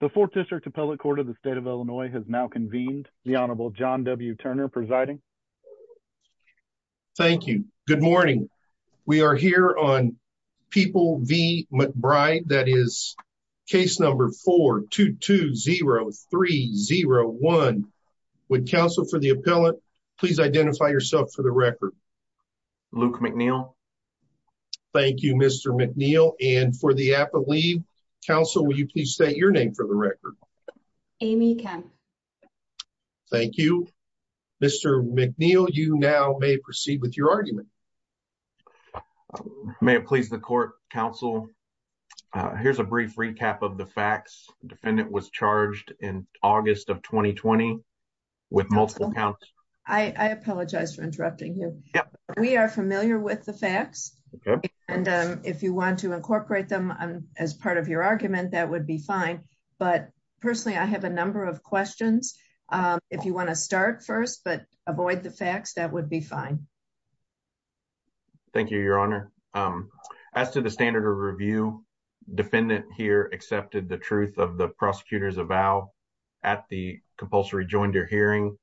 The 4th District Appellate Court of the State of Illinois has now convened. The Honorable John W. Turner presiding. Thank you. Good morning. We are here on People v. McBride. That is case number 4-220301. Would counsel for the appellant please identify yourself for the record. Luke McNeil. Thank you, Mr. McNeil. And for the appellate counsel, will you please state your name for the record. Amy Kemp. Thank you. Mr. McNeil, you now may proceed with your argument. May it please the court, counsel. Here's a brief recap of the facts. Defendant was charged in August of 2020 with multiple counts. I apologize for interrupting you. We are familiar with the facts. And if you want to incorporate them as part of your argument, that would be fine. But personally, I have a number of questions. If you want to start first, but avoid the facts, that would be fine. Thank you, Your Honor. As to the standard of review, defendant here accepted the truth of prosecutor's avow at the compulsory joinder hearing.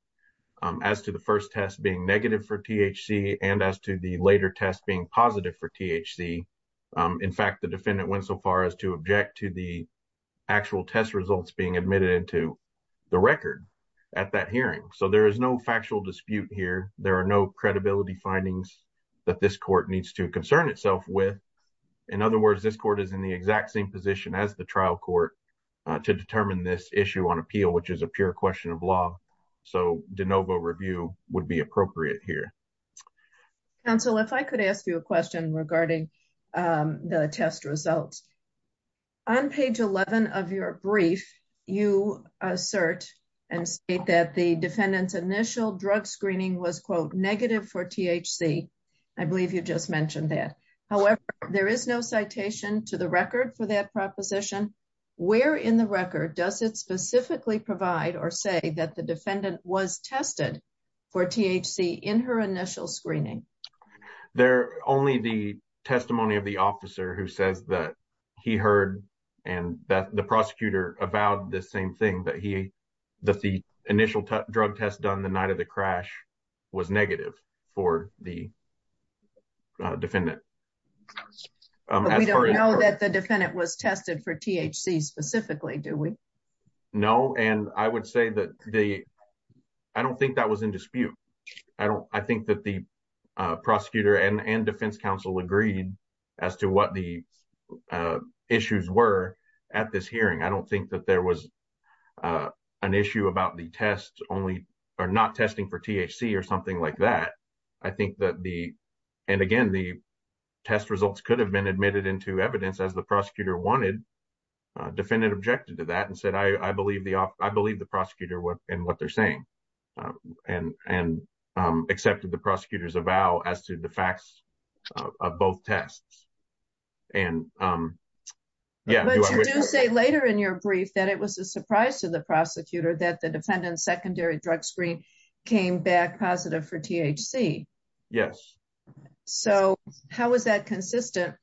As to the first test being negative for THC and as to the later test being positive for THC. In fact, the defendant went so far as to object to the actual test results being admitted into the record at that hearing. So there is no factual dispute here. There are no credibility findings that this court needs to concern itself with. In other words, this court is in the exact same position as the trial court to determine this issue on appeal, which is a pure question of law. So de novo review would be appropriate here. Counsel, if I could ask you a question regarding the test results. On page 11 of your brief, you assert and state that the defendant's initial drug screening was negative for THC. I believe you just mentioned that. However, there is no citation to the record for that proposition. Where in the record does it specifically provide or say that the defendant was tested for THC in her initial screening? They're only the testimony of the officer who says that he heard and that the prosecutor avowed the same thing that he, that the initial drug test done the night of the crash was negative for the defendant. But we don't know that the defendant was tested for THC specifically, do we? No. And I would say that the, I don't think that was in dispute. I don't, I think that the prosecutor and defense counsel agreed as to what the issues were at this hearing. I don't think that there was an issue about the test only or not testing for THC or something like that. I think that the, and again, the test results could have been admitted into evidence as the prosecutor wanted. Defendant objected to that and said, I believe the prosecutor and what they're saying and accepted the prosecutor's avow as to the facts of both tests. And yeah. But you do say later in your brief that it was a surprise to the prosecutor that the Yes. So how was that consistent?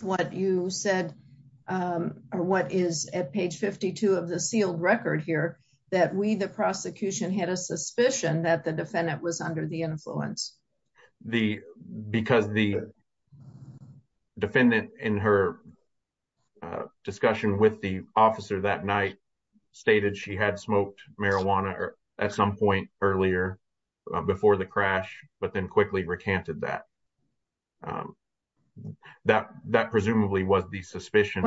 What you said, or what is at page 52 of the sealed record here that we, the prosecution had a suspicion that the defendant was under the influence. The, because the defendant in her discussion with the officer that night stated she had marijuana at some point earlier before the crash, but then quickly recanted that. That, that presumably was the suspicion.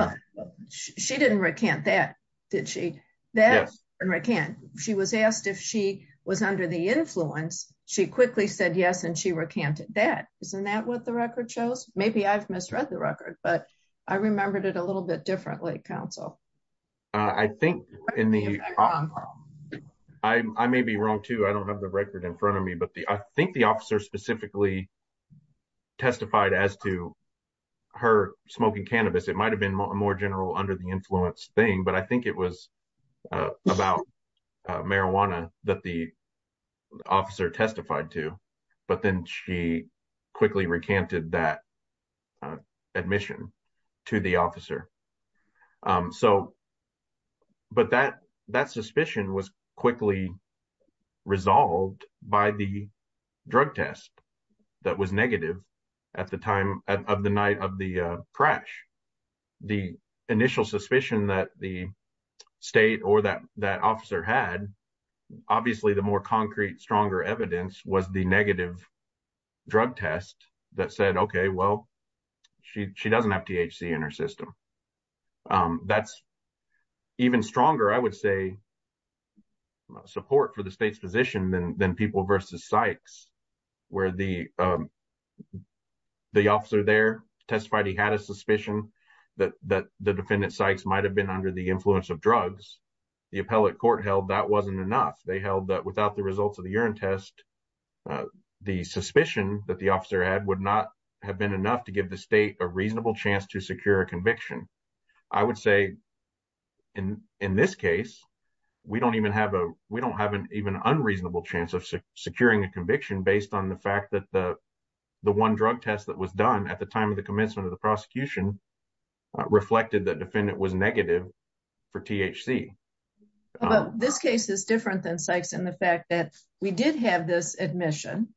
She didn't recant that. Did she? That recant. She was asked if she was under the influence. She quickly said yes and she recanted that. Isn't that what the record shows? Maybe I've misread the record, but I remembered it a little bit differently. So I think in the, I may be wrong too. I don't have the record in front of me, but the, I think the officer specifically testified as to her smoking cannabis. It might've been more general under the influence thing, but I think it was about marijuana that the officer testified to, but then she quickly recanted that admission to the officer. So, but that, that suspicion was quickly resolved by the drug test that was negative at the time of the night of the crash. The initial suspicion that the state or that, that officer had, obviously the more concrete, stronger evidence was the negative drug test that said, okay, well, she, she doesn't have THC in her system. That's even stronger, I would say, support for the state's position than, than people versus Sykes where the, the officer there testified he had a suspicion that, that the defendant Sykes might have been under the influence of drugs. The appellate court held that wasn't enough. They held that without the results of the urine test, the suspicion that the officer had would not have been enough to give the state a reasonable chance to secure a conviction. I would say in, in this case, we don't even have a, we don't have an even unreasonable chance of securing a conviction based on the fact that the, the one drug test that was done at the time of the commencement of the prosecution reflected that defendant was negative for THC. Well, this case is different than Sykes in the fact that we did have this admission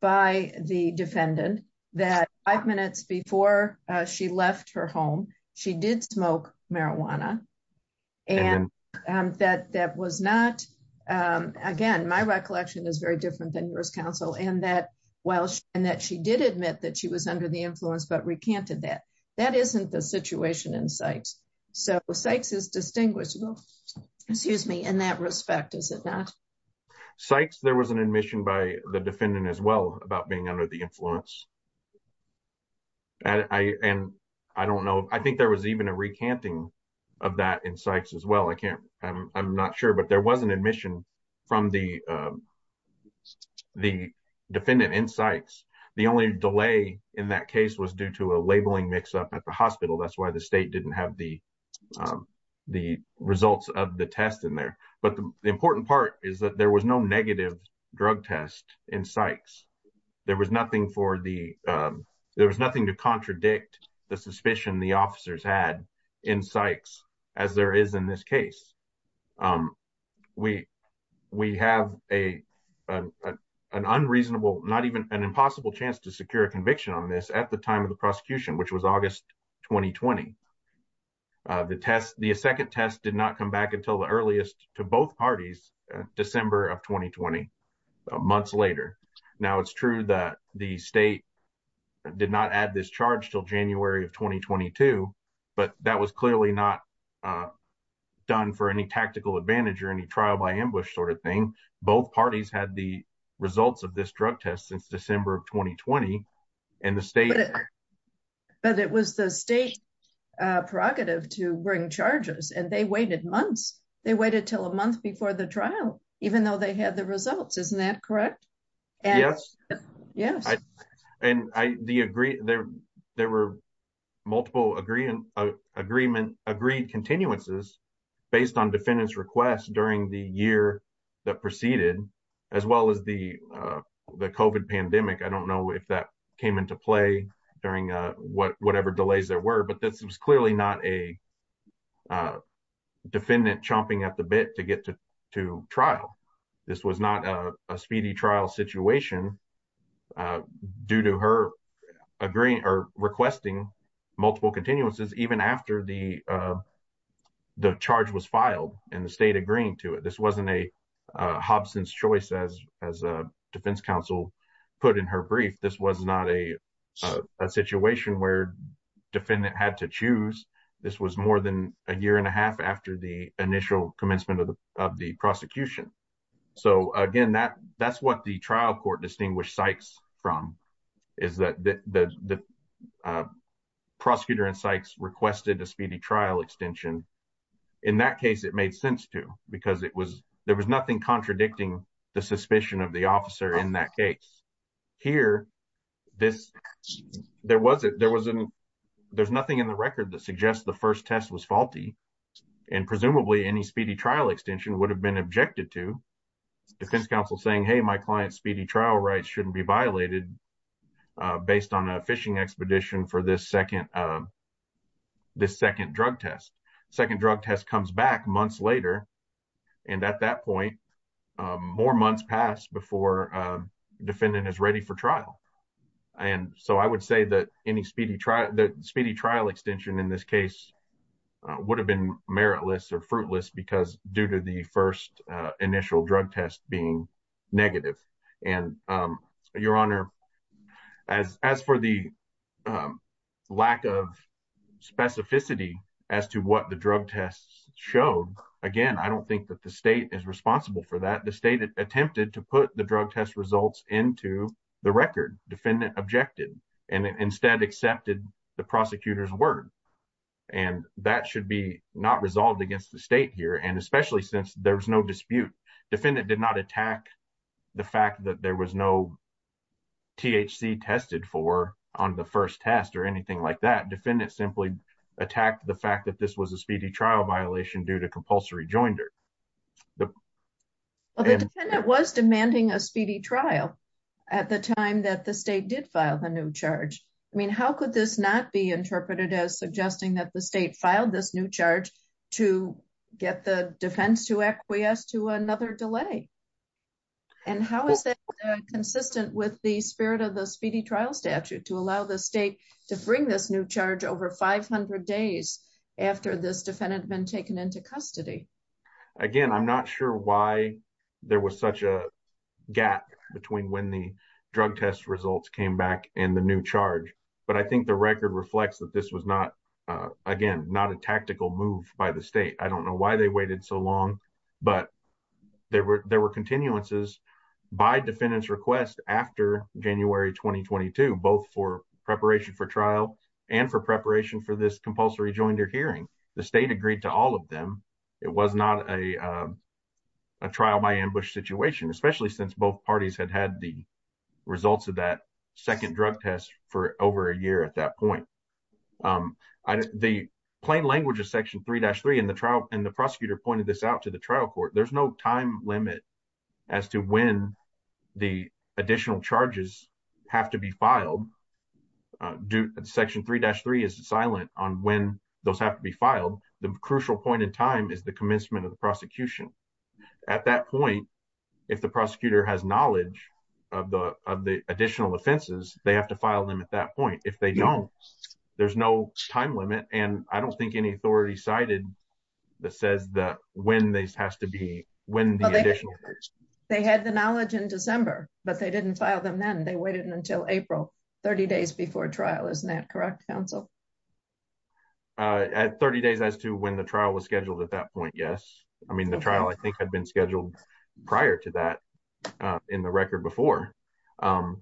by the defendant that five minutes before she left her home, she did smoke marijuana and that, that was not, again, my recollection is very different than yours counsel and that while, and that she did admit that she was under the influence, but recanted that, that isn't the situation in Sykes. So Sykes is distinguished, excuse me, in that respect, is it not? Sykes, there was an admission by the defendant as well about being under the influence. And I don't know, I think there was even a recanting of that in Sykes as well. I can't, I'm not sure, but there was an admission from the, the defendant in Sykes. The only delay in that case was due to a labeling mix up at the hospital. That's why the state didn't have the, the results of the test in there. But the important part is that there was no negative drug test in Sykes. There was nothing for the, there was nothing to contradict the suspicion the officers had in Sykes as there is in this case. We, we have a, an unreasonable, not even an impossible chance to secure a conviction on this at the time of the the second test did not come back until the earliest to both parties, December of 2020, months later. Now it's true that the state did not add this charge till January of 2022, but that was clearly not done for any tactical advantage or any trial by ambush sort of thing. Both parties had the results of this drug test since December of 2020 and the state. But it was the state prerogative to bring charges and they waited months. They waited till a month before the trial, even though they had the results. Isn't that correct? Yes. And I, the agree there, there were multiple agreement, agreement, agreed continuances based on defendants requests during the year that proceeded as well as the, the COVID pandemic. I don't know if that came into play during whatever delays there were, but this was clearly not a defendant chomping at the bit to get to, to trial. This was not a speedy trial situation due to her agreeing or requesting multiple continuances, even after the, the charge was briefed. This was not a, a situation where defendant had to choose. This was more than a year and a half after the initial commencement of the, of the prosecution. So again, that, that's what the trial court distinguished Sykes from is that the, the, the prosecutor in Sykes requested a speedy trial extension. In that case, it made sense to, because it was, there was nothing contradicting the suspicion of the officer in that case here. This, there wasn't, there wasn't, there's nothing in the record that suggests the first test was faulty and presumably any speedy trial extension would have been objected to defense counsel saying, Hey, my client's speedy trial rights shouldn't be violated based on a fishing expedition for this second, this second test. Second drug test comes back months later. And at that point more months passed before defendant is ready for trial. And so I would say that any speedy trial, the speedy trial extension in this case would have been meritless or fruitless because due to the first initial drug test being negative. And your honor, as, as for the lack of specificity as to what the drug tests showed, again, I don't think that the state is responsible for that. The state attempted to put the drug test results into the record defendant objected and instead accepted the prosecutor's word. And that should be not resolved against the state here. And especially since there's no dispute, defendant did not attack the fact that there was no THC tested for on the first test or anything like that. Defendant simply attacked the fact that this was a speedy trial violation due to compulsory joinder. Well, the defendant was demanding a speedy trial at the time that the state did file the new charge. I mean, how could this not be interpreted as suggesting that the state filed this new charge to get the defense to acquiesce to another delay? And how is that consistent with the spirit of the speedy trial statute to allow the state to bring this new charge over 500 days after this defendant been taken into custody? Again, I'm not sure why there was such a gap between when the drug test results came back and the new charge. But I think the record reflects that this was not, again, not a tactical move by the state. I don't know why they waited so long, but there were continuances by defendant's request after January 2022, both for preparation for trial and for preparation for this compulsory joinder hearing. The state agreed to all of them. It was not a trial by ambush situation, especially since both parties had had the results of that second drug test for over a year at that point. The plain language of Section 3-3 and the prosecutor pointed this out to the trial court, there's no time limit as to when the additional charges have to be filed. Section 3-3 is silent on when those have to be filed. The crucial point in time is the commencement of prosecution. At that point, if the prosecutor has knowledge of the additional offenses, they have to file them at that point. If they don't, there's no time limit and I don't think any authority cited that says that when this has to be, when the additional charges. They had the knowledge in December, but they didn't file them then. They waited until April, 30 days before trial. Isn't that correct, counsel? At 30 days as to when the trial was scheduled at that point, yes. I mean, the trial, I think, had been scheduled prior to that in the record before. Again-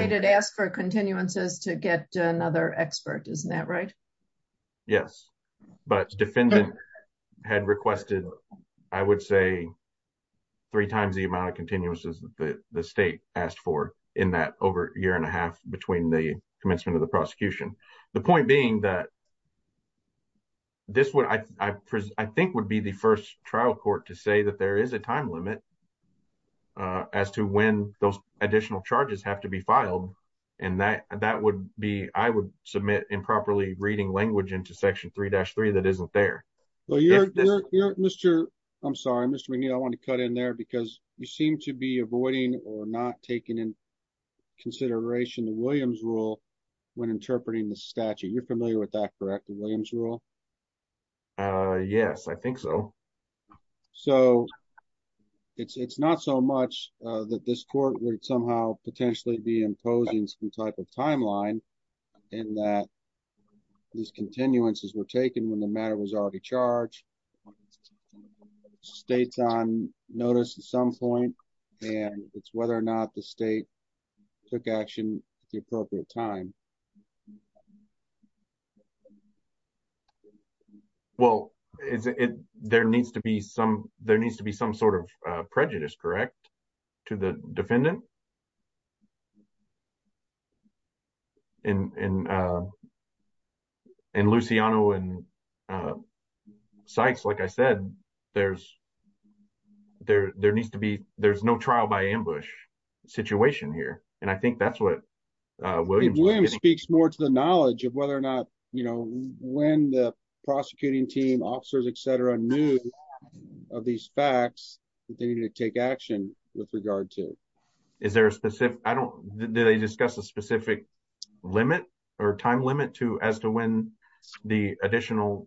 They did ask for continuances to get another expert, isn't that right? Yes, but defendant had requested, I would say, three times the amount of continuances that the state asked for in that over a year and a half between the commencement of the prosecution. The point being that this would, I think, would be the first trial court to say that there is a time limit as to when those additional charges have to be filed and that would be, I would submit improperly reading language into section 3-3 that isn't there. Mr. McNeil, I want to cut in there because you seem to be avoiding or not taking in consideration the Williams rule when interpreting the statute. You're familiar with that, correct, the Williams rule? Yes, I think so. So, it's not so much that this court would somehow potentially be imposing some type of timeline in that these continuances were taken when the matter was already charged, it's states on notice at some point and it's whether or not the state took action at the appropriate time. Well, there needs to be some sort of prejudice, correct, to the defendant? And Luciano and Sykes, like I said, there's no trial by ambush situation here and I think that's what Williams... Williams speaks more to the knowledge of whether or not, you know, when the prosecuting team, officers, etc. knew of these facts that they needed to take action with regard to. Is there a specific, I don't, did they discuss a specific limit or time limit to as to when the additional,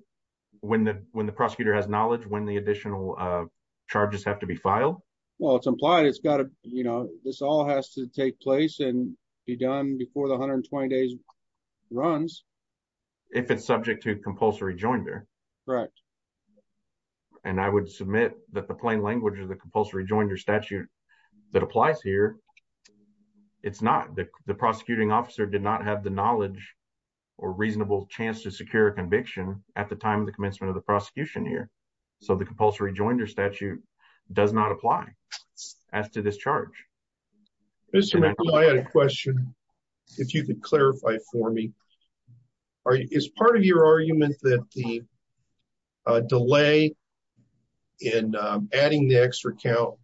when the prosecutor has knowledge, when the additional charges have to be filed? Well, it's implied it's got to, you know, this all has to take place and be done before the 120 days runs. If it's subject to compulsory joinder? Correct. And I would submit that the plain language of the compulsory joinder statute that applies here, it's not. The prosecuting officer did not have the knowledge or reasonable chance to secure a conviction at the time of the commencement of the prosecution here. So, the compulsory joinder statute does not apply as to this charge. Mr. McCall, I had a question if you could clarify for me. Is part of your argument that the delay in adding the extra count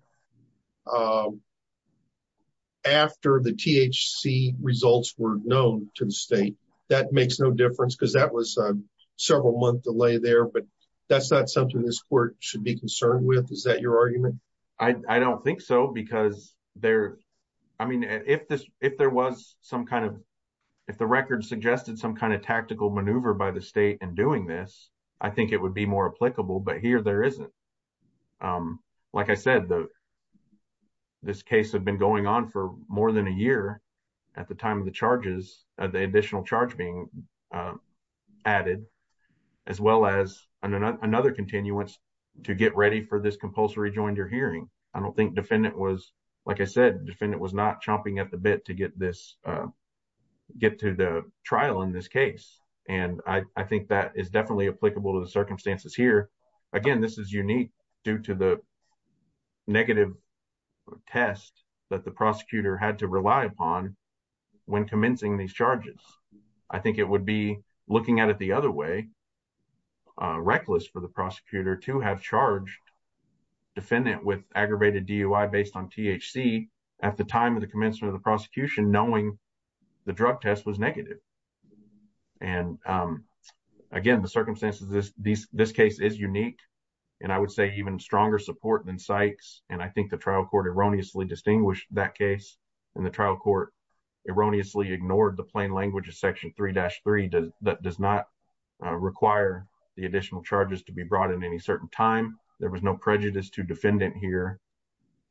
after the THC results were known to the state, that makes no difference because that was a several month delay there, but that's not something this court should be concerned with. Is that your argument? I don't think so because there, I mean, if there was some kind of, if the record suggested some kind of tactical maneuver by the state in doing this, I think it would be more applicable, but here there isn't. Like I said, this case had been going on for more than a year at the time of the charges, of the additional charge being added, as well as another continuance to get ready for this compulsory joinder hearing. I don't think defendant was, like I said, defendant was not chomping at the bit to get this, get to the trial in this case. And I think that is definitely applicable to the circumstances here. Again, this is unique due to the negative test that the prosecutor had to rely upon when commencing these charges. I think it would be looking at it the other way, reckless for the prosecutor to have charged defendant with aggravated DUI based on THC at the time of the commencement of the prosecution, knowing the drug test was negative. And again, the circumstances of this case is unique, and I would say even stronger support than Sykes. And I think the trial court erroneously distinguished that case. And the trial court erroneously ignored the plain language of section 3-3 that does not require the additional charges to be brought in any certain time. There was no prejudice to defendant here.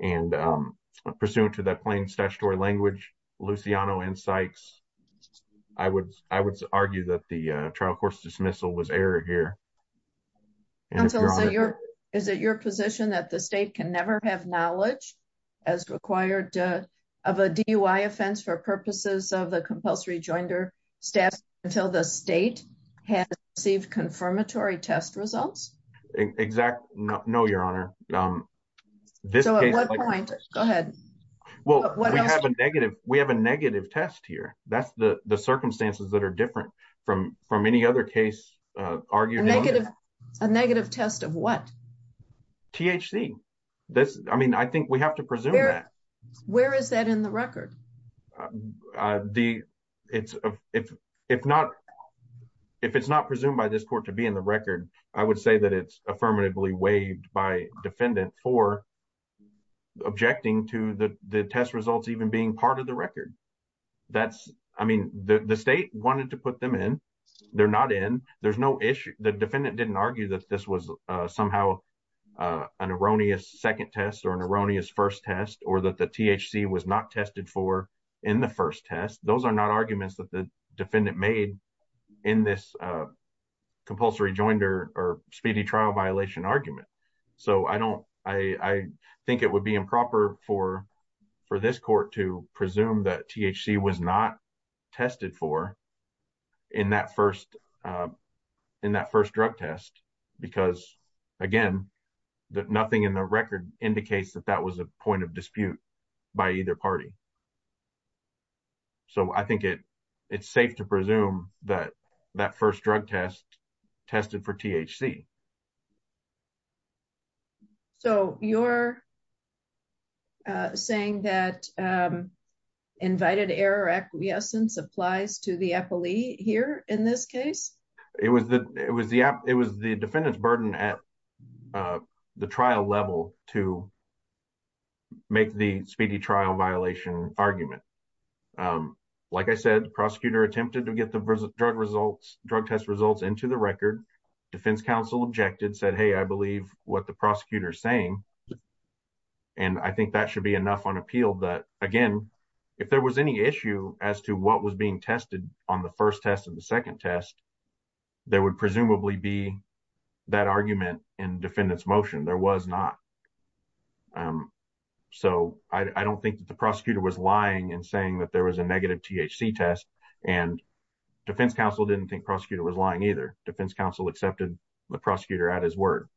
And pursuant to that plain statutory language, Luciano and Sykes, I would argue that the trial court's dismissal was error here. Is it your position that the state can never have knowledge as required of a DUI offense for purposes of the compulsory joinder staff until the state has received confirmatory test results? Exactly. No, Your Honor. We have a negative test here. That's the circumstances that are different from any other case. A negative test of what? THC. I mean, I think we have to presume that. Where is that in the record? If it's not presumed by this court to be in the record, I would say that it's affirmatively waived by defendant for objecting to the test results even being part of the record. I mean, the state wanted to put them in. They're not in. There's no issue. The defendant didn't argue that this was somehow an erroneous second test or an erroneous first test or that the THC was not tested for in the first test. Those are not arguments that the defendant made in this compulsory joinder or speedy trial violation argument. So I don't, I think it would be improper for this court to presume that THC was not tested for in that first drug test because, again, nothing in the record indicates that that was a point of dispute by either party. So I think it's safe to presume that that first drug test tested for THC. So you're saying that invited error acquiescence applies to the appellee here in this case? It was the defendant's burden at the trial level to make the speedy trial violation argument. Like I said, the prosecutor attempted to get the drug test results into the record. Defense counsel objected, said, hey, I believe what the prosecutor is saying. And I think that should be enough on appeal that, again, if there was any tested on the first test of the second test, there would presumably be that argument in defendant's motion. There was not. So I don't think that the prosecutor was lying and saying that there was a negative THC test. And defense counsel didn't think prosecutor was lying either. Defense counsel accepted the prosecutor at his word.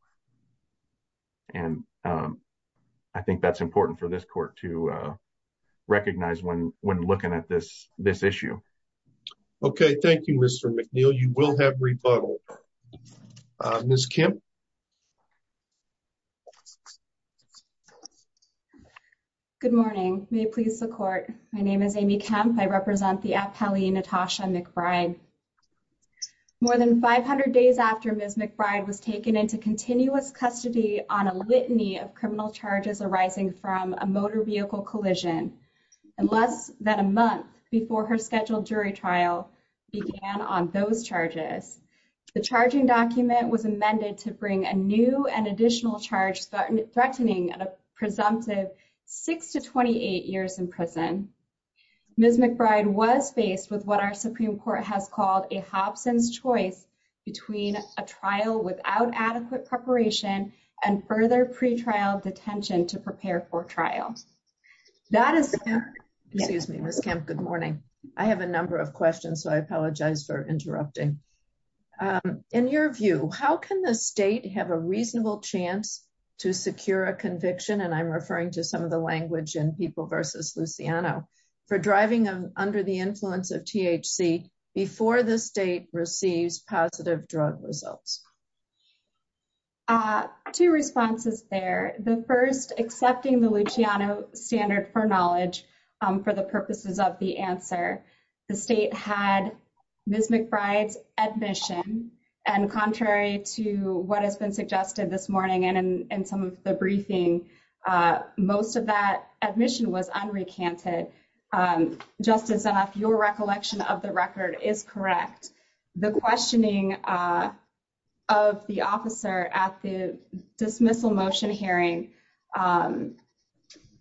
And I think that's important for this court to recognize when looking at this issue. Okay. Thank you, Mr. McNeil. You will have rebuttal. Ms. Kemp. Good morning. May it please the court. My name is Amy Kemp. I represent the appellee Natasha McBride. More than 500 days after Ms. McBride was taken into continuous custody on litany of criminal charges arising from a motor vehicle collision and less than a month before her scheduled jury trial began on those charges, the charging document was amended to bring a new and additional charge threatening a presumptive 6 to 28 years in prison. Ms. McBride was faced with what our Supreme Court has called a Hobson's choice between a trial without adequate preparation and further pretrial detention to prepare for trial. That is, excuse me, Ms. Kemp. Good morning. I have a number of questions, so I apologize for interrupting. In your view, how can the state have a reasonable chance to secure a conviction, and I'm referring to some of the language in People v. Luciano, for driving under the two responses there. The first, accepting the Luciano standard for knowledge for the purposes of the answer. The state had Ms. McBride's admission, and contrary to what has been suggested this morning and some of the briefing, most of that admission was unrecanted. Just as your recollection of the record is correct, the questioning of the officer at the dismissal motion hearing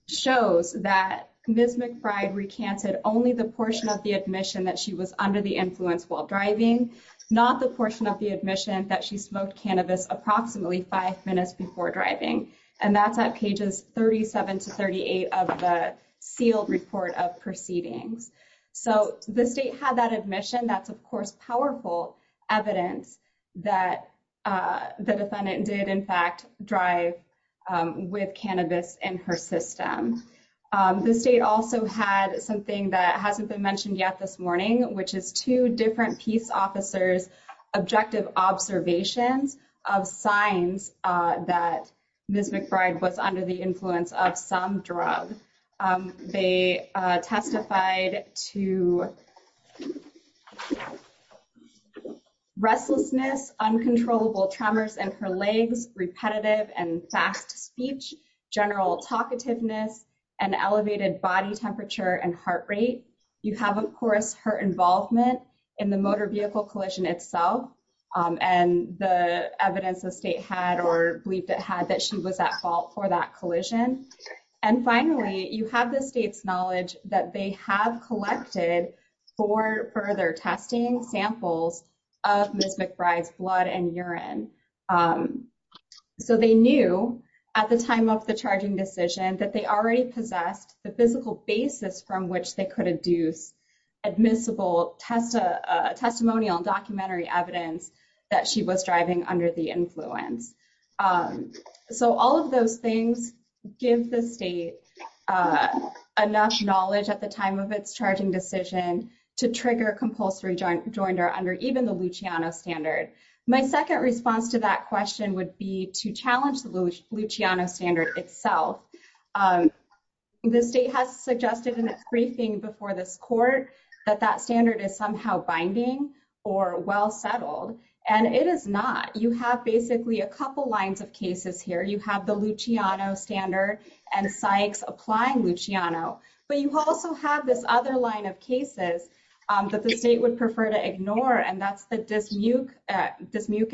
shows that Ms. McBride recanted only the portion of the admission that she was under the influence while driving, not the portion of the admission that she smoked cannabis approximately five minutes before driving, and that's at pages 37 to 38 of the sealed report of proceedings. The state had that admission. That's, of course, powerful evidence that the defendant did, in fact, drive with cannabis in her system. The state also had something that hasn't been mentioned yet this morning, which is two different peace officers' objective observations of signs that Ms. McBride was under the influence of some drug. They testified to restlessness, uncontrollable tremors in her legs, repetitive and fast speech, general talkativeness, and elevated body temperature and heart rate. You have, of course, her involvement in the motor vehicle collision itself and the evidence the state had or believed it had that she was at fault for that collision. And finally, you have the state's knowledge that they have collected four further testing samples of Ms. McBride's blood and urine. So they knew at the time of the charging decision that they already possessed the physical basis from which they could adduce admissible testimonial documentary evidence that she was driving under the influence. So all of those things give the state enough knowledge at the time of its charging decision to trigger compulsory rejoinder under even the Luciano standard. My second response to that itself, the state has suggested in its briefing before this court that that standard is somehow binding or well settled, and it is not. You have basically a couple lines of cases here. You have the Luciano standard and Sykes applying Luciano, but you also have this other line of cases that the state would prefer to ignore, and that's the Dismuke,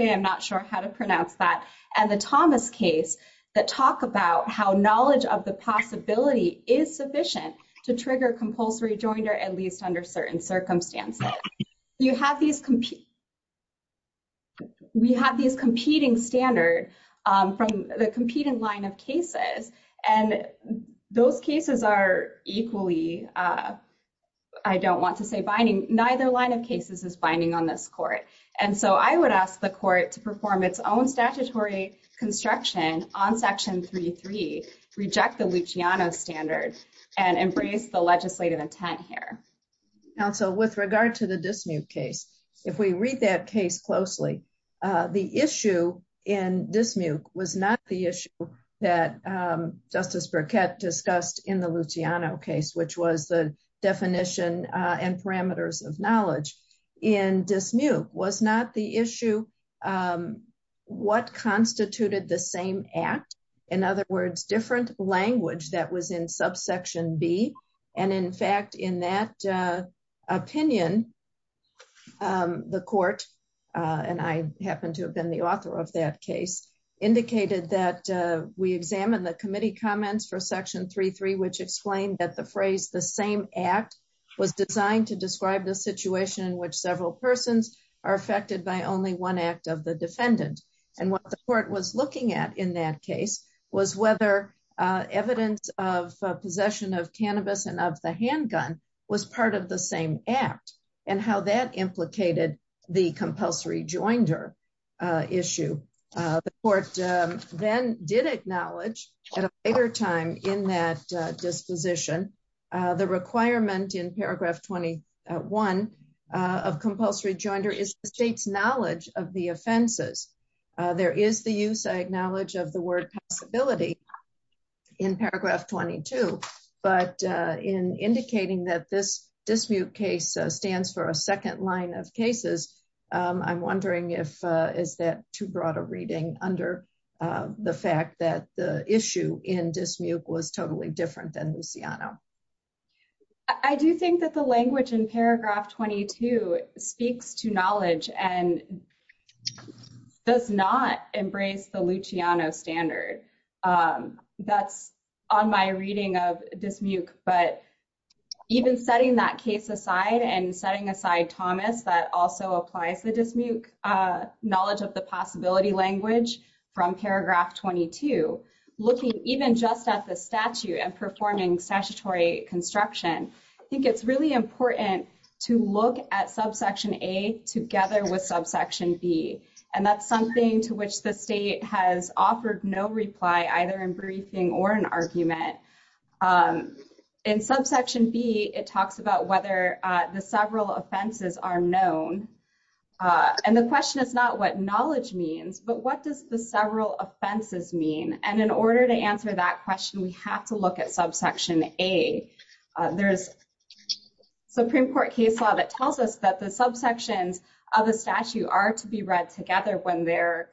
I'm not sure how to pronounce that, and the Thomas case that talk about how knowledge of the possibility is sufficient to trigger compulsory rejoinder, at least under certain circumstances. We have these competing standard from the competing line of cases, and those cases are equally, I don't want to say binding, neither line of cases is binding on this court. And so I would ask the court to perform its own statutory construction on section 33, reject the Luciano standard, and embrace the legislative intent here. Counsel, with regard to the Dismuke case, if we read that case closely, the issue in Dismuke was not the issue that Justice Burkett discussed in the Luciano case, which was the what constituted the same act, in other words, different language that was in subsection B. And in fact, in that opinion, the court, and I happen to have been the author of that case, indicated that we examine the committee comments for section 33, which explained that the phrase, the same act was designed to describe the situation in which several persons are affected by only one act of the defendant. And what the court was looking at in that case was whether evidence of possession of cannabis and of the handgun was part of the same act, and how that implicated the compulsory rejoinder issue. The court then did acknowledge at a later time in that knowledge of the offenses. There is the use, I acknowledge, of the word possibility in paragraph 22, but in indicating that this Dismuke case stands for a second line of cases, I'm wondering if, is that too broad a reading under the fact that the issue in Dismuke was totally different than Luciano? I do think that the language in paragraph 22 speaks to knowledge and does not embrace the Luciano standard. That's on my reading of Dismuke, but even setting that case aside and setting aside Thomas that also applies the Dismuke knowledge of the possibility language from paragraph 22, looking even just at the statute and performing statutory construction, I think it's really important to look at subsection A together with subsection B. And that's something to which the state has offered no reply either in briefing or an argument. In subsection B, it talks about whether the several offenses are known. And the question is not what knowledge means, but what does the several offenses mean? And in order to answer that question, we have to look at subsection A. There's Supreme Court case law that tells us that the subsections of a statute are to be read together when they're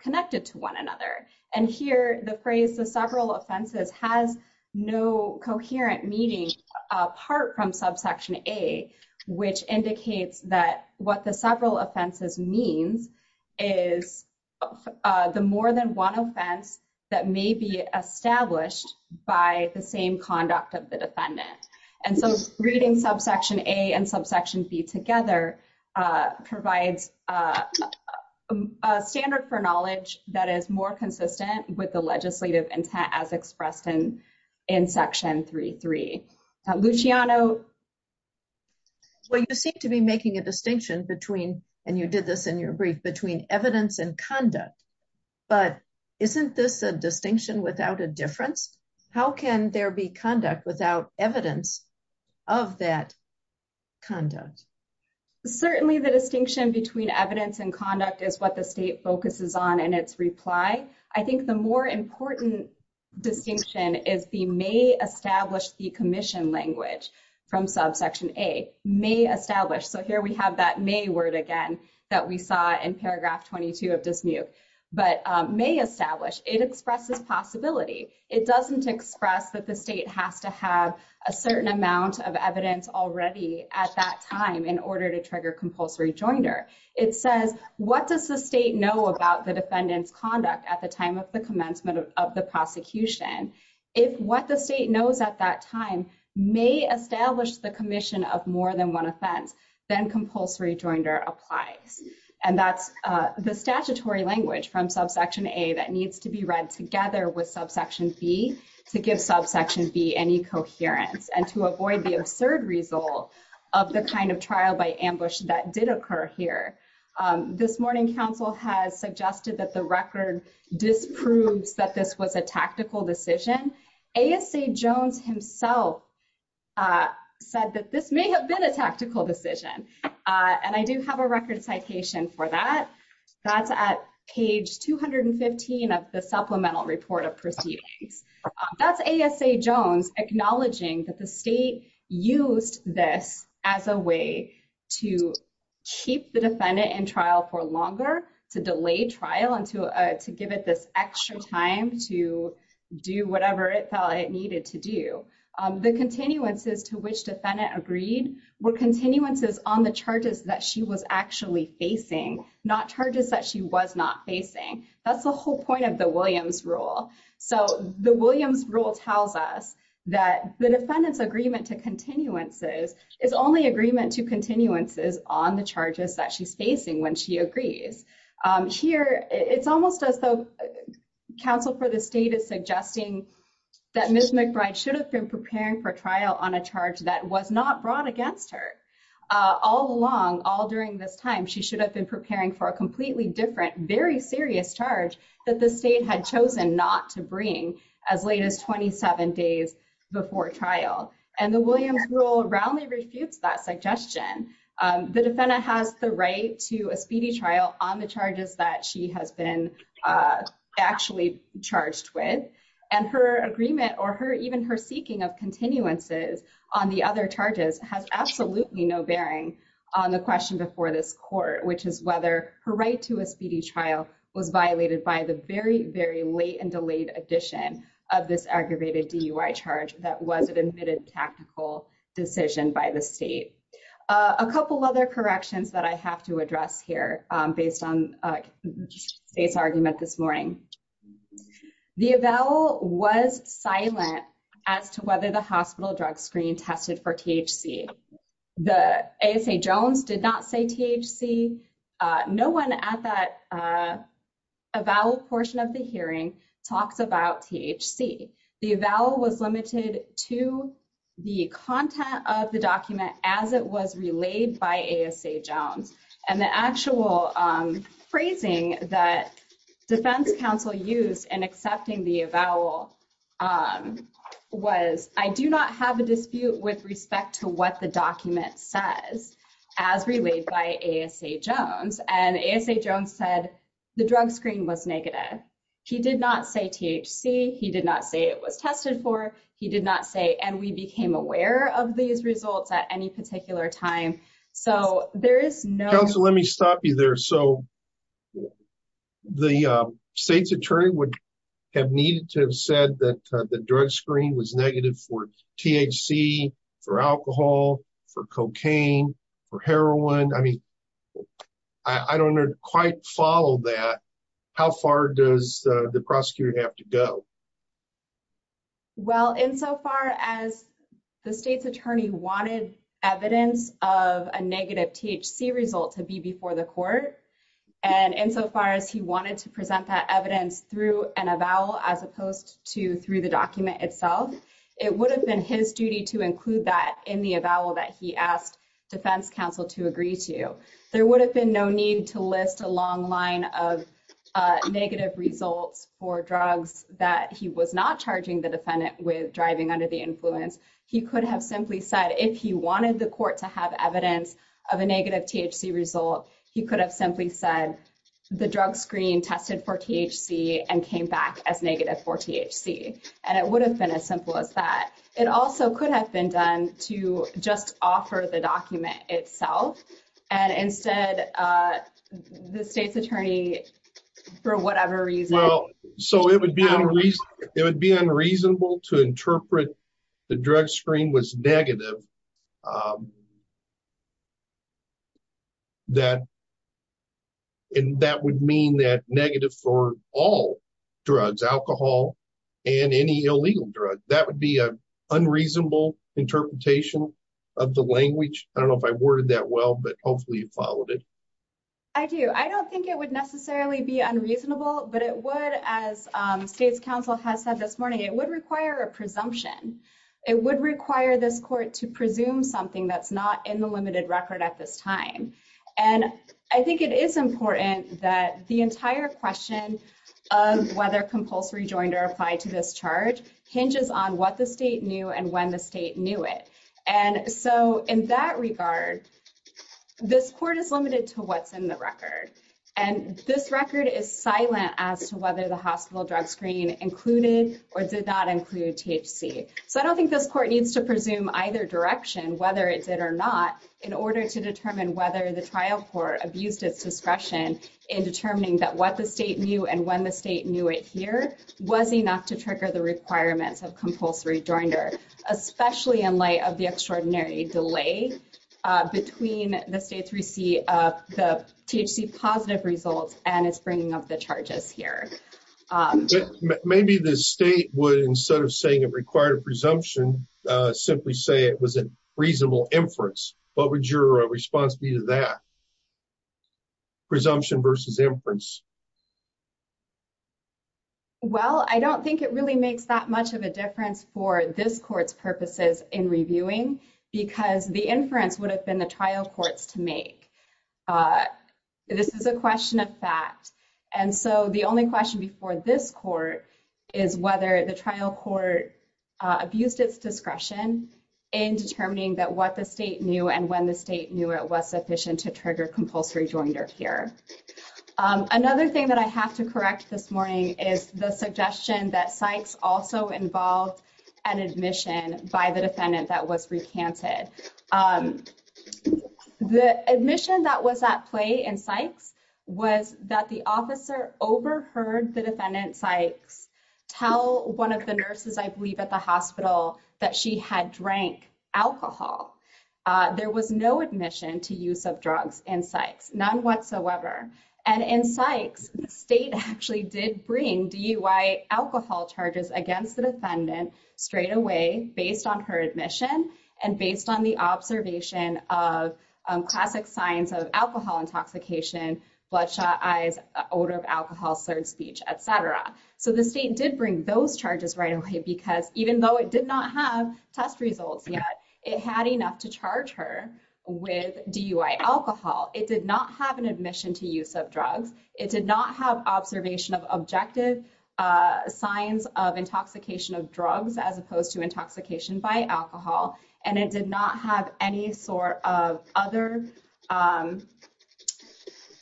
connected to one another. And here, the phrase the several offenses has no coherent meaning apart from subsection A, which indicates that what the several offenses means is the more than one offense that may be established by the same conduct of the defendant. And so reading subsection A and subsection B together provides a standard for knowledge that is more consistent with the legislative intent as expressed in section 3.3. Luciano? Well, you seem to be making a distinction between, and you did this in your brief, between evidence and conduct. But isn't this a distinction without a difference? How can there be conduct without evidence of that conduct? Certainly, the distinction between evidence and conduct is what the state focuses on in its reply. I think the more important distinction is the may establish the commission language from subsection A. May establish. So here we have that may word again that we saw in paragraph 22 of Dismuke. But may establish. It expresses possibility. It doesn't express that the state has to have a certain amount of evidence already at that time in order to trigger compulsory joinder. It says, what does the state know about the defendant's conduct at the time of the commencement of the prosecution? If what the state knows at that time may establish the commission of more than one offense, then compulsory joinder applies. And that's the statutory language from subsection A that needs to be read together with subsection B to give subsection B any coherence and to avoid the absurd result of the kind of trial by ambush that did occur here. This morning counsel has suggested that the record disproves that this was a tactical decision. ASA Jones himself said that this may have been a tactical decision. And I do have a record citation for that. That's at page 215 of the Supplemental Report of Proceedings. That's ASA Jones acknowledging that the state used this as a way to keep the defendant in trial for longer, to delay trial, and to give it this extra time to do whatever it felt it needed to do. The continuances to which defendant agreed were continuances on the charges that she was actually facing, not charges that she was not facing. That's the whole point of the Williams rule. So the Williams rule tells us that the defendant's agreement to continuances is only agreement to continuances on the charges that she's facing when she agrees. Here it's almost as though counsel for the state is suggesting that Ms. McBride should have been preparing for trial on a charge that was not brought against her. All along, all during this time, she should have been preparing for a completely different, very serious charge that the state had chosen not to bring as late as 27 days before trial. And the Williams rule roundly refutes that suggestion. The defendant has the right to a speedy trial on the charges that she has been actually charged with. And her agreement or even her seeking of continuances on the other charges has absolutely no bearing on the question before this court, which is whether her right to a speedy trial was violated by the very, very late and delayed addition of this aggravated DUI charge that was an admitted tactical decision by the state. A couple other corrections that I have to address here based on the state's argument this morning. The avowal was silent as to whether the a vowel portion of the hearing talks about THC. The vowel was limited to the content of the document as it was relayed by ASA Jones. And the actual phrasing that defense counsel used in accepting the avowal was, I do not have a dispute with respect to what the document says as relayed by ASA Jones. And ASA Jones said the drug screen was negative. He did not say THC. He did not say it was tested for. He did not say, and we became aware of these results at any particular time. So there is no- Counsel, let me stop you there. So the state's attorney would have needed to have said that drug screen was negative for THC, for alcohol, for cocaine, for heroin. I mean, I don't quite follow that. How far does the prosecutor have to go? Well, insofar as the state's attorney wanted evidence of a negative THC result to be before the court, and insofar as he wanted to present that evidence through an avowal as opposed to the document itself, it would have been his duty to include that in the avowal that he asked defense counsel to agree to. There would have been no need to list a long line of negative results for drugs that he was not charging the defendant with driving under the influence. He could have simply said if he wanted the court to have evidence of a negative THC result, he could have said the drug screen tested for THC and came back as negative for THC. And it would have been as simple as that. It also could have been done to just offer the document itself. And instead, the state's attorney, for whatever reason- Well, so it would be unreasonable to interpret the drug screen was negative and that would mean that negative for all drugs, alcohol, and any illegal drug. That would be an unreasonable interpretation of the language. I don't know if I worded that well, but hopefully you followed it. I do. I don't think it would necessarily be unreasonable, but it would, as state's counsel has said this morning, it would require a presumption. It would require this court to presume something that's not in the limited record at this time. And I think it is important that the entire question of whether compulsory joint or apply to this charge hinges on what the state knew and when the state knew it. And so in that regard, this court is limited to what's in the record. And this record is silent as to whether the hospital drug screen included or did not include THC. So I don't think this court needs to presume either direction, whether it did or not, in order to determine whether the trial court abused its discretion in determining that what the state knew and when the state knew it here was enough to trigger the requirements of compulsory joinder, especially in light of the extraordinary delay between the state's receipt of the THC positive results and its bringing up the charges here. Maybe the state would, instead of saying it required a presumption, simply say it was a reasonable inference. What would your response be to that? Presumption versus inference. Well, I don't think it really makes that much of a difference for this court's purposes in reviewing because the inference would have been the trial courts to make. This is a question of fact. And so the only question before this court is whether the trial court abused its discretion in determining that what the state knew and when the state knew it was sufficient to trigger compulsory joinder here. Another thing that I have to correct this morning is the suggestion that Sykes also involved an admission by the defendant that was recanted. The admission that was at play in Sykes was that the officer overheard the defendant Sykes tell one of the nurses, I believe, at the hospital that she had drank alcohol. There was no admission to use of drugs in Sykes, none whatsoever. And in Sykes, the state actually did bring DUI alcohol charges against the defendant straight away based on her admission and based on the observation of classic signs of alcohol intoxication, bloodshot eyes, odor of alcohol, slurred speech, et cetera. So the state did bring those charges right away because even though it DUI alcohol, it did not have an admission to use of drugs. It did not have observation of objective signs of intoxication of drugs as opposed to intoxication by alcohol. And it did not have any sort of other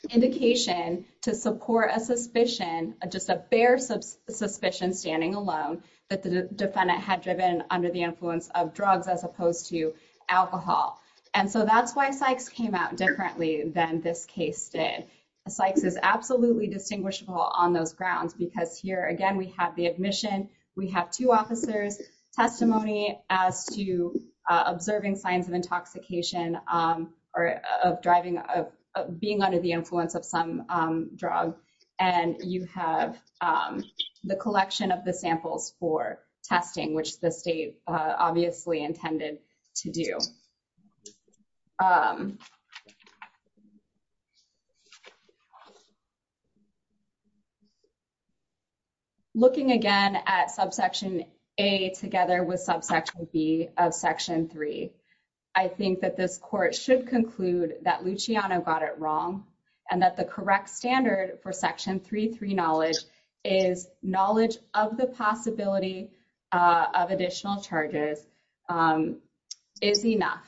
indication to support a suspicion, just a bare suspicion standing alone that the defendant had driven under the influence of drugs as opposed to alcohol. And so that's why Sykes came out differently than this case did. Sykes is absolutely distinguishable on those grounds because here, again, we have the admission. We have two officers' testimony as to observing signs of intoxication or of being under the influence of some drug. And you have the collection of the samples for testing, which the state obviously intended to do. Looking again at subsection A together with subsection B of section 3, I think that this court should conclude that Luciano got it wrong and that the correct standard for section 3.3 is knowledge of the possibility of additional charges is enough,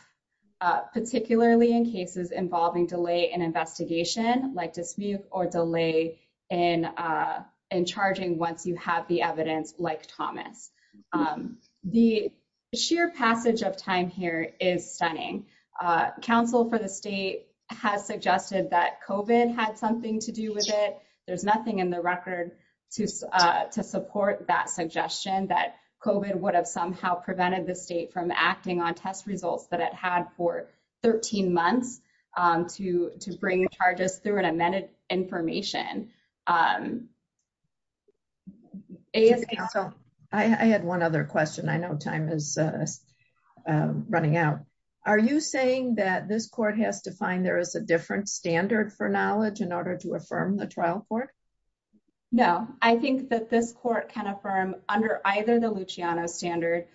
particularly in cases involving delay in investigation, like dismute or delay in charging once you have the evidence like Thomas. The sheer passage of time here is stunning. Counsel for the state has suggested that COVID had something to do with it. There's nothing in the record to support that suggestion that COVID would have somehow prevented the state from acting on test results that it had for 13 months to bring charges through and amended information. I had one other question. I know time is running out. Are you saying that this court has to find a different standard for knowledge in order to affirm the trial court? No. I think that this court can affirm under either the Luciano standard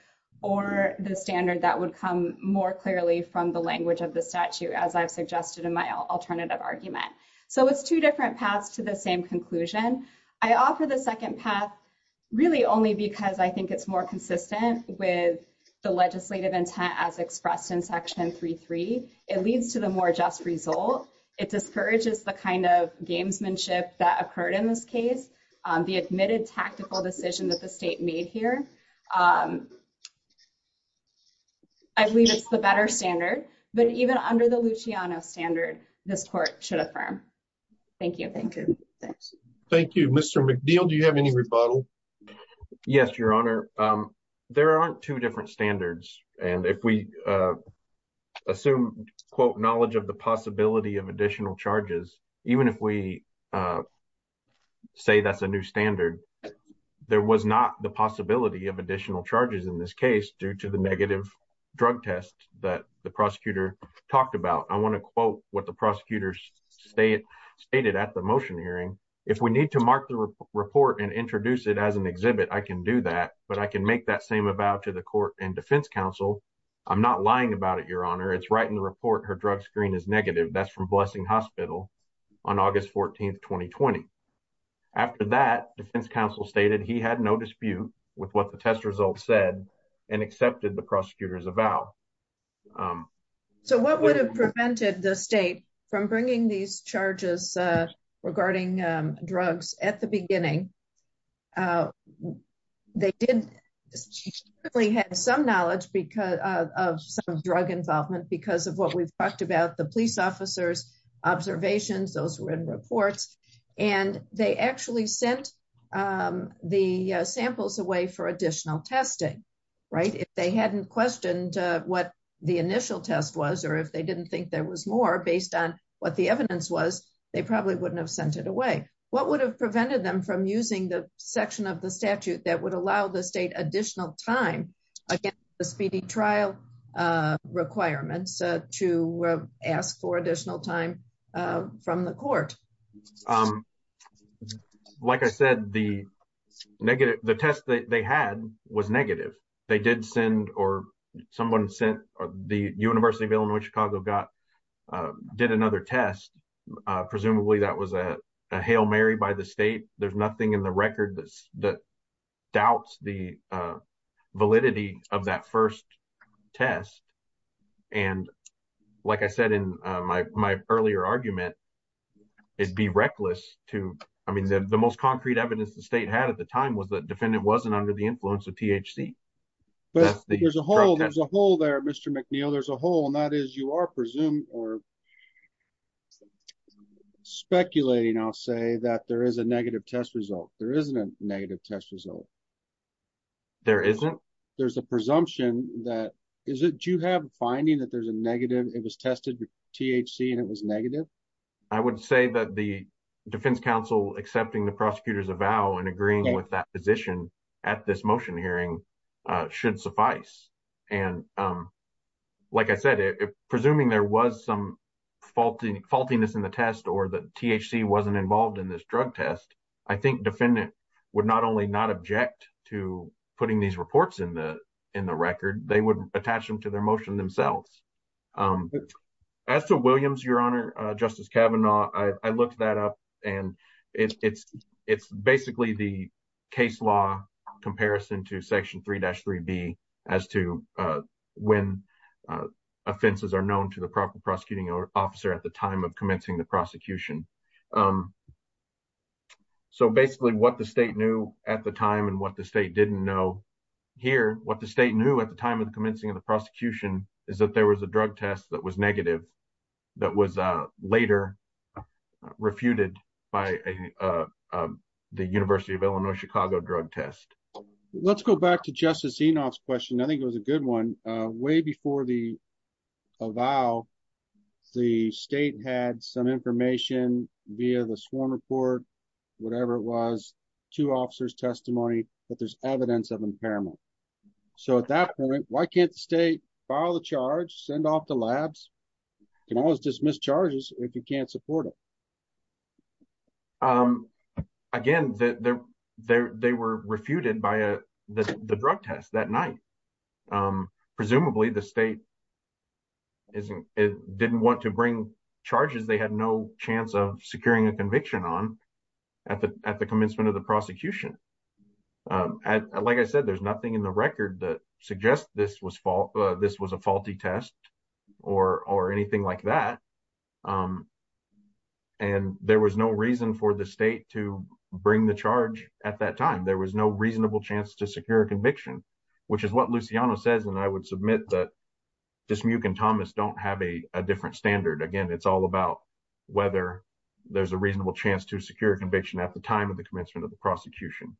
or the standard that would come more clearly from the language of the statute, as I've suggested in my alternative argument. So it's two different paths to the same conclusion. I offer the second path really only because I think it's more consistent with the legislative intent as expressed in section 3.3. It leads to the more just result. It discourages the kind of gamesmanship that occurred in this case, the admitted tactical decision that the state made here. I believe it's the better standard, but even under the Luciano standard, this court should affirm. Thank you. Thank you. Thank you. Mr. McNeil, do you have any rebuttal? Yes, Your Honor. There aren't two different standards. And if we assume, quote, knowledge of the possibility of additional charges, even if we say that's a new standard, there was not the possibility of additional charges in this case due to the negative drug test that the prosecutor talked about. I want to quote what the prosecutors stated at the motion hearing. If we need to mark the report and introduce it as an exhibit, I can do that. But I can make that same avow to the court and defense counsel. I'm not lying about it, Your Honor. It's right in the report. Her drug screen is negative. That's from Blessing Hospital on August 14th, 2020. After that, defense counsel stated he had no dispute with what the test results said and accepted the prosecutor's avow. So what would have prevented the state from bringing these charges regarding drugs at the beginning? They did have some knowledge because of some drug involvement because of what we've talked about, the police officers' observations. Those were in reports. And they actually sent the samples away for additional testing, right? If they hadn't questioned what the initial test was or if they didn't think there was more based on what the evidence was, they probably wouldn't have sent it away. What would have prevented them from using the section of the statute that would allow the state additional time against the speedy trial requirements to ask for additional time from the court? Like I said, the test that they had was negative. They did send or someone sent the University of Illinois Chicago did another test. Presumably, that was a Hail Mary by the state. There's nothing in the record that doubts the validity of that first test. And like I said in my earlier argument, it'd be reckless to... I mean, the most concrete evidence the state had at the time was that defendant wasn't under the influence of THC. But there's a hole there, Mr. McNeil. There's a hole and that is you are presumed or speculating, I'll say, that there is a negative test result. There isn't a negative test result. There isn't? There's a presumption that... Do you have a finding that there's a negative... It was tested THC and it was negative? I would say that the defense counsel accepting the prosecutor's avow and agreeing with that position at this motion hearing should suffice. And like I said, if presuming there was some faultiness in the test or that THC wasn't involved in this drug test, I think defendant would not only not object to putting these reports in the record, they would attach them to their motion themselves. As to Williams, Your Honor, Justice Kavanaugh, I looked that up and it's basically the case law comparison to Section 3-3B as to when offenses are known to proper prosecuting officer at the time of commencing the prosecution. So basically what the state knew at the time and what the state didn't know here, what the state knew at the time of the commencing of the prosecution is that there was a drug test that was negative that was later refuted by the University of Illinois Chicago drug test. Let's go back to Justice Kavanaugh. Way before the avow, the state had some information via the Swarm Report, whatever it was, two officers' testimony that there's evidence of impairment. So at that point, why can't the state file the charge, send off the labs? You can always dismiss charges if you can't afford it. Again, they were refuted by the drug test that night. Presumably, the state didn't want to bring charges they had no chance of securing a conviction on at the commencement of the prosecution. Like I said, there's nothing in the record that there was no reason for the state to bring the charge at that time. There was no reasonable chance to secure a conviction, which is what Luciano says. And I would submit that Dismuke and Thomas don't have a different standard. Again, it's all about whether there's a reasonable chance to secure a conviction at the time of the commencement of the prosecution,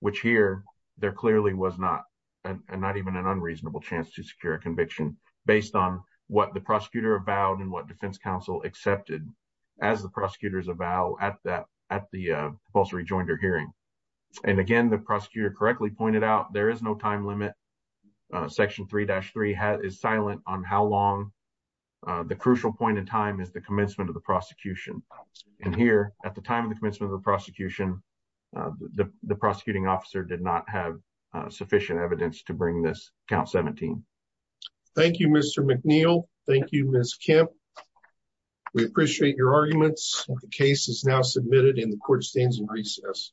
which here there clearly was not, and not even an unreasonable chance to secure a conviction based on what the prosecutor avowed and what defense counsel accepted as the prosecutors avowed at the compulsory joinder hearing. And again, the prosecutor correctly pointed out, there is no time limit. Section 3-3 is silent on how long the crucial point in time is the commencement of the prosecution. And here at the time of the commencement of the prosecution, the prosecuting officer did not have sufficient evidence to bring this count 17. Thank you, Mr. McNeil. Thank you, Ms. Kemp. We appreciate your arguments. The case is now submitted and the court stands in recess.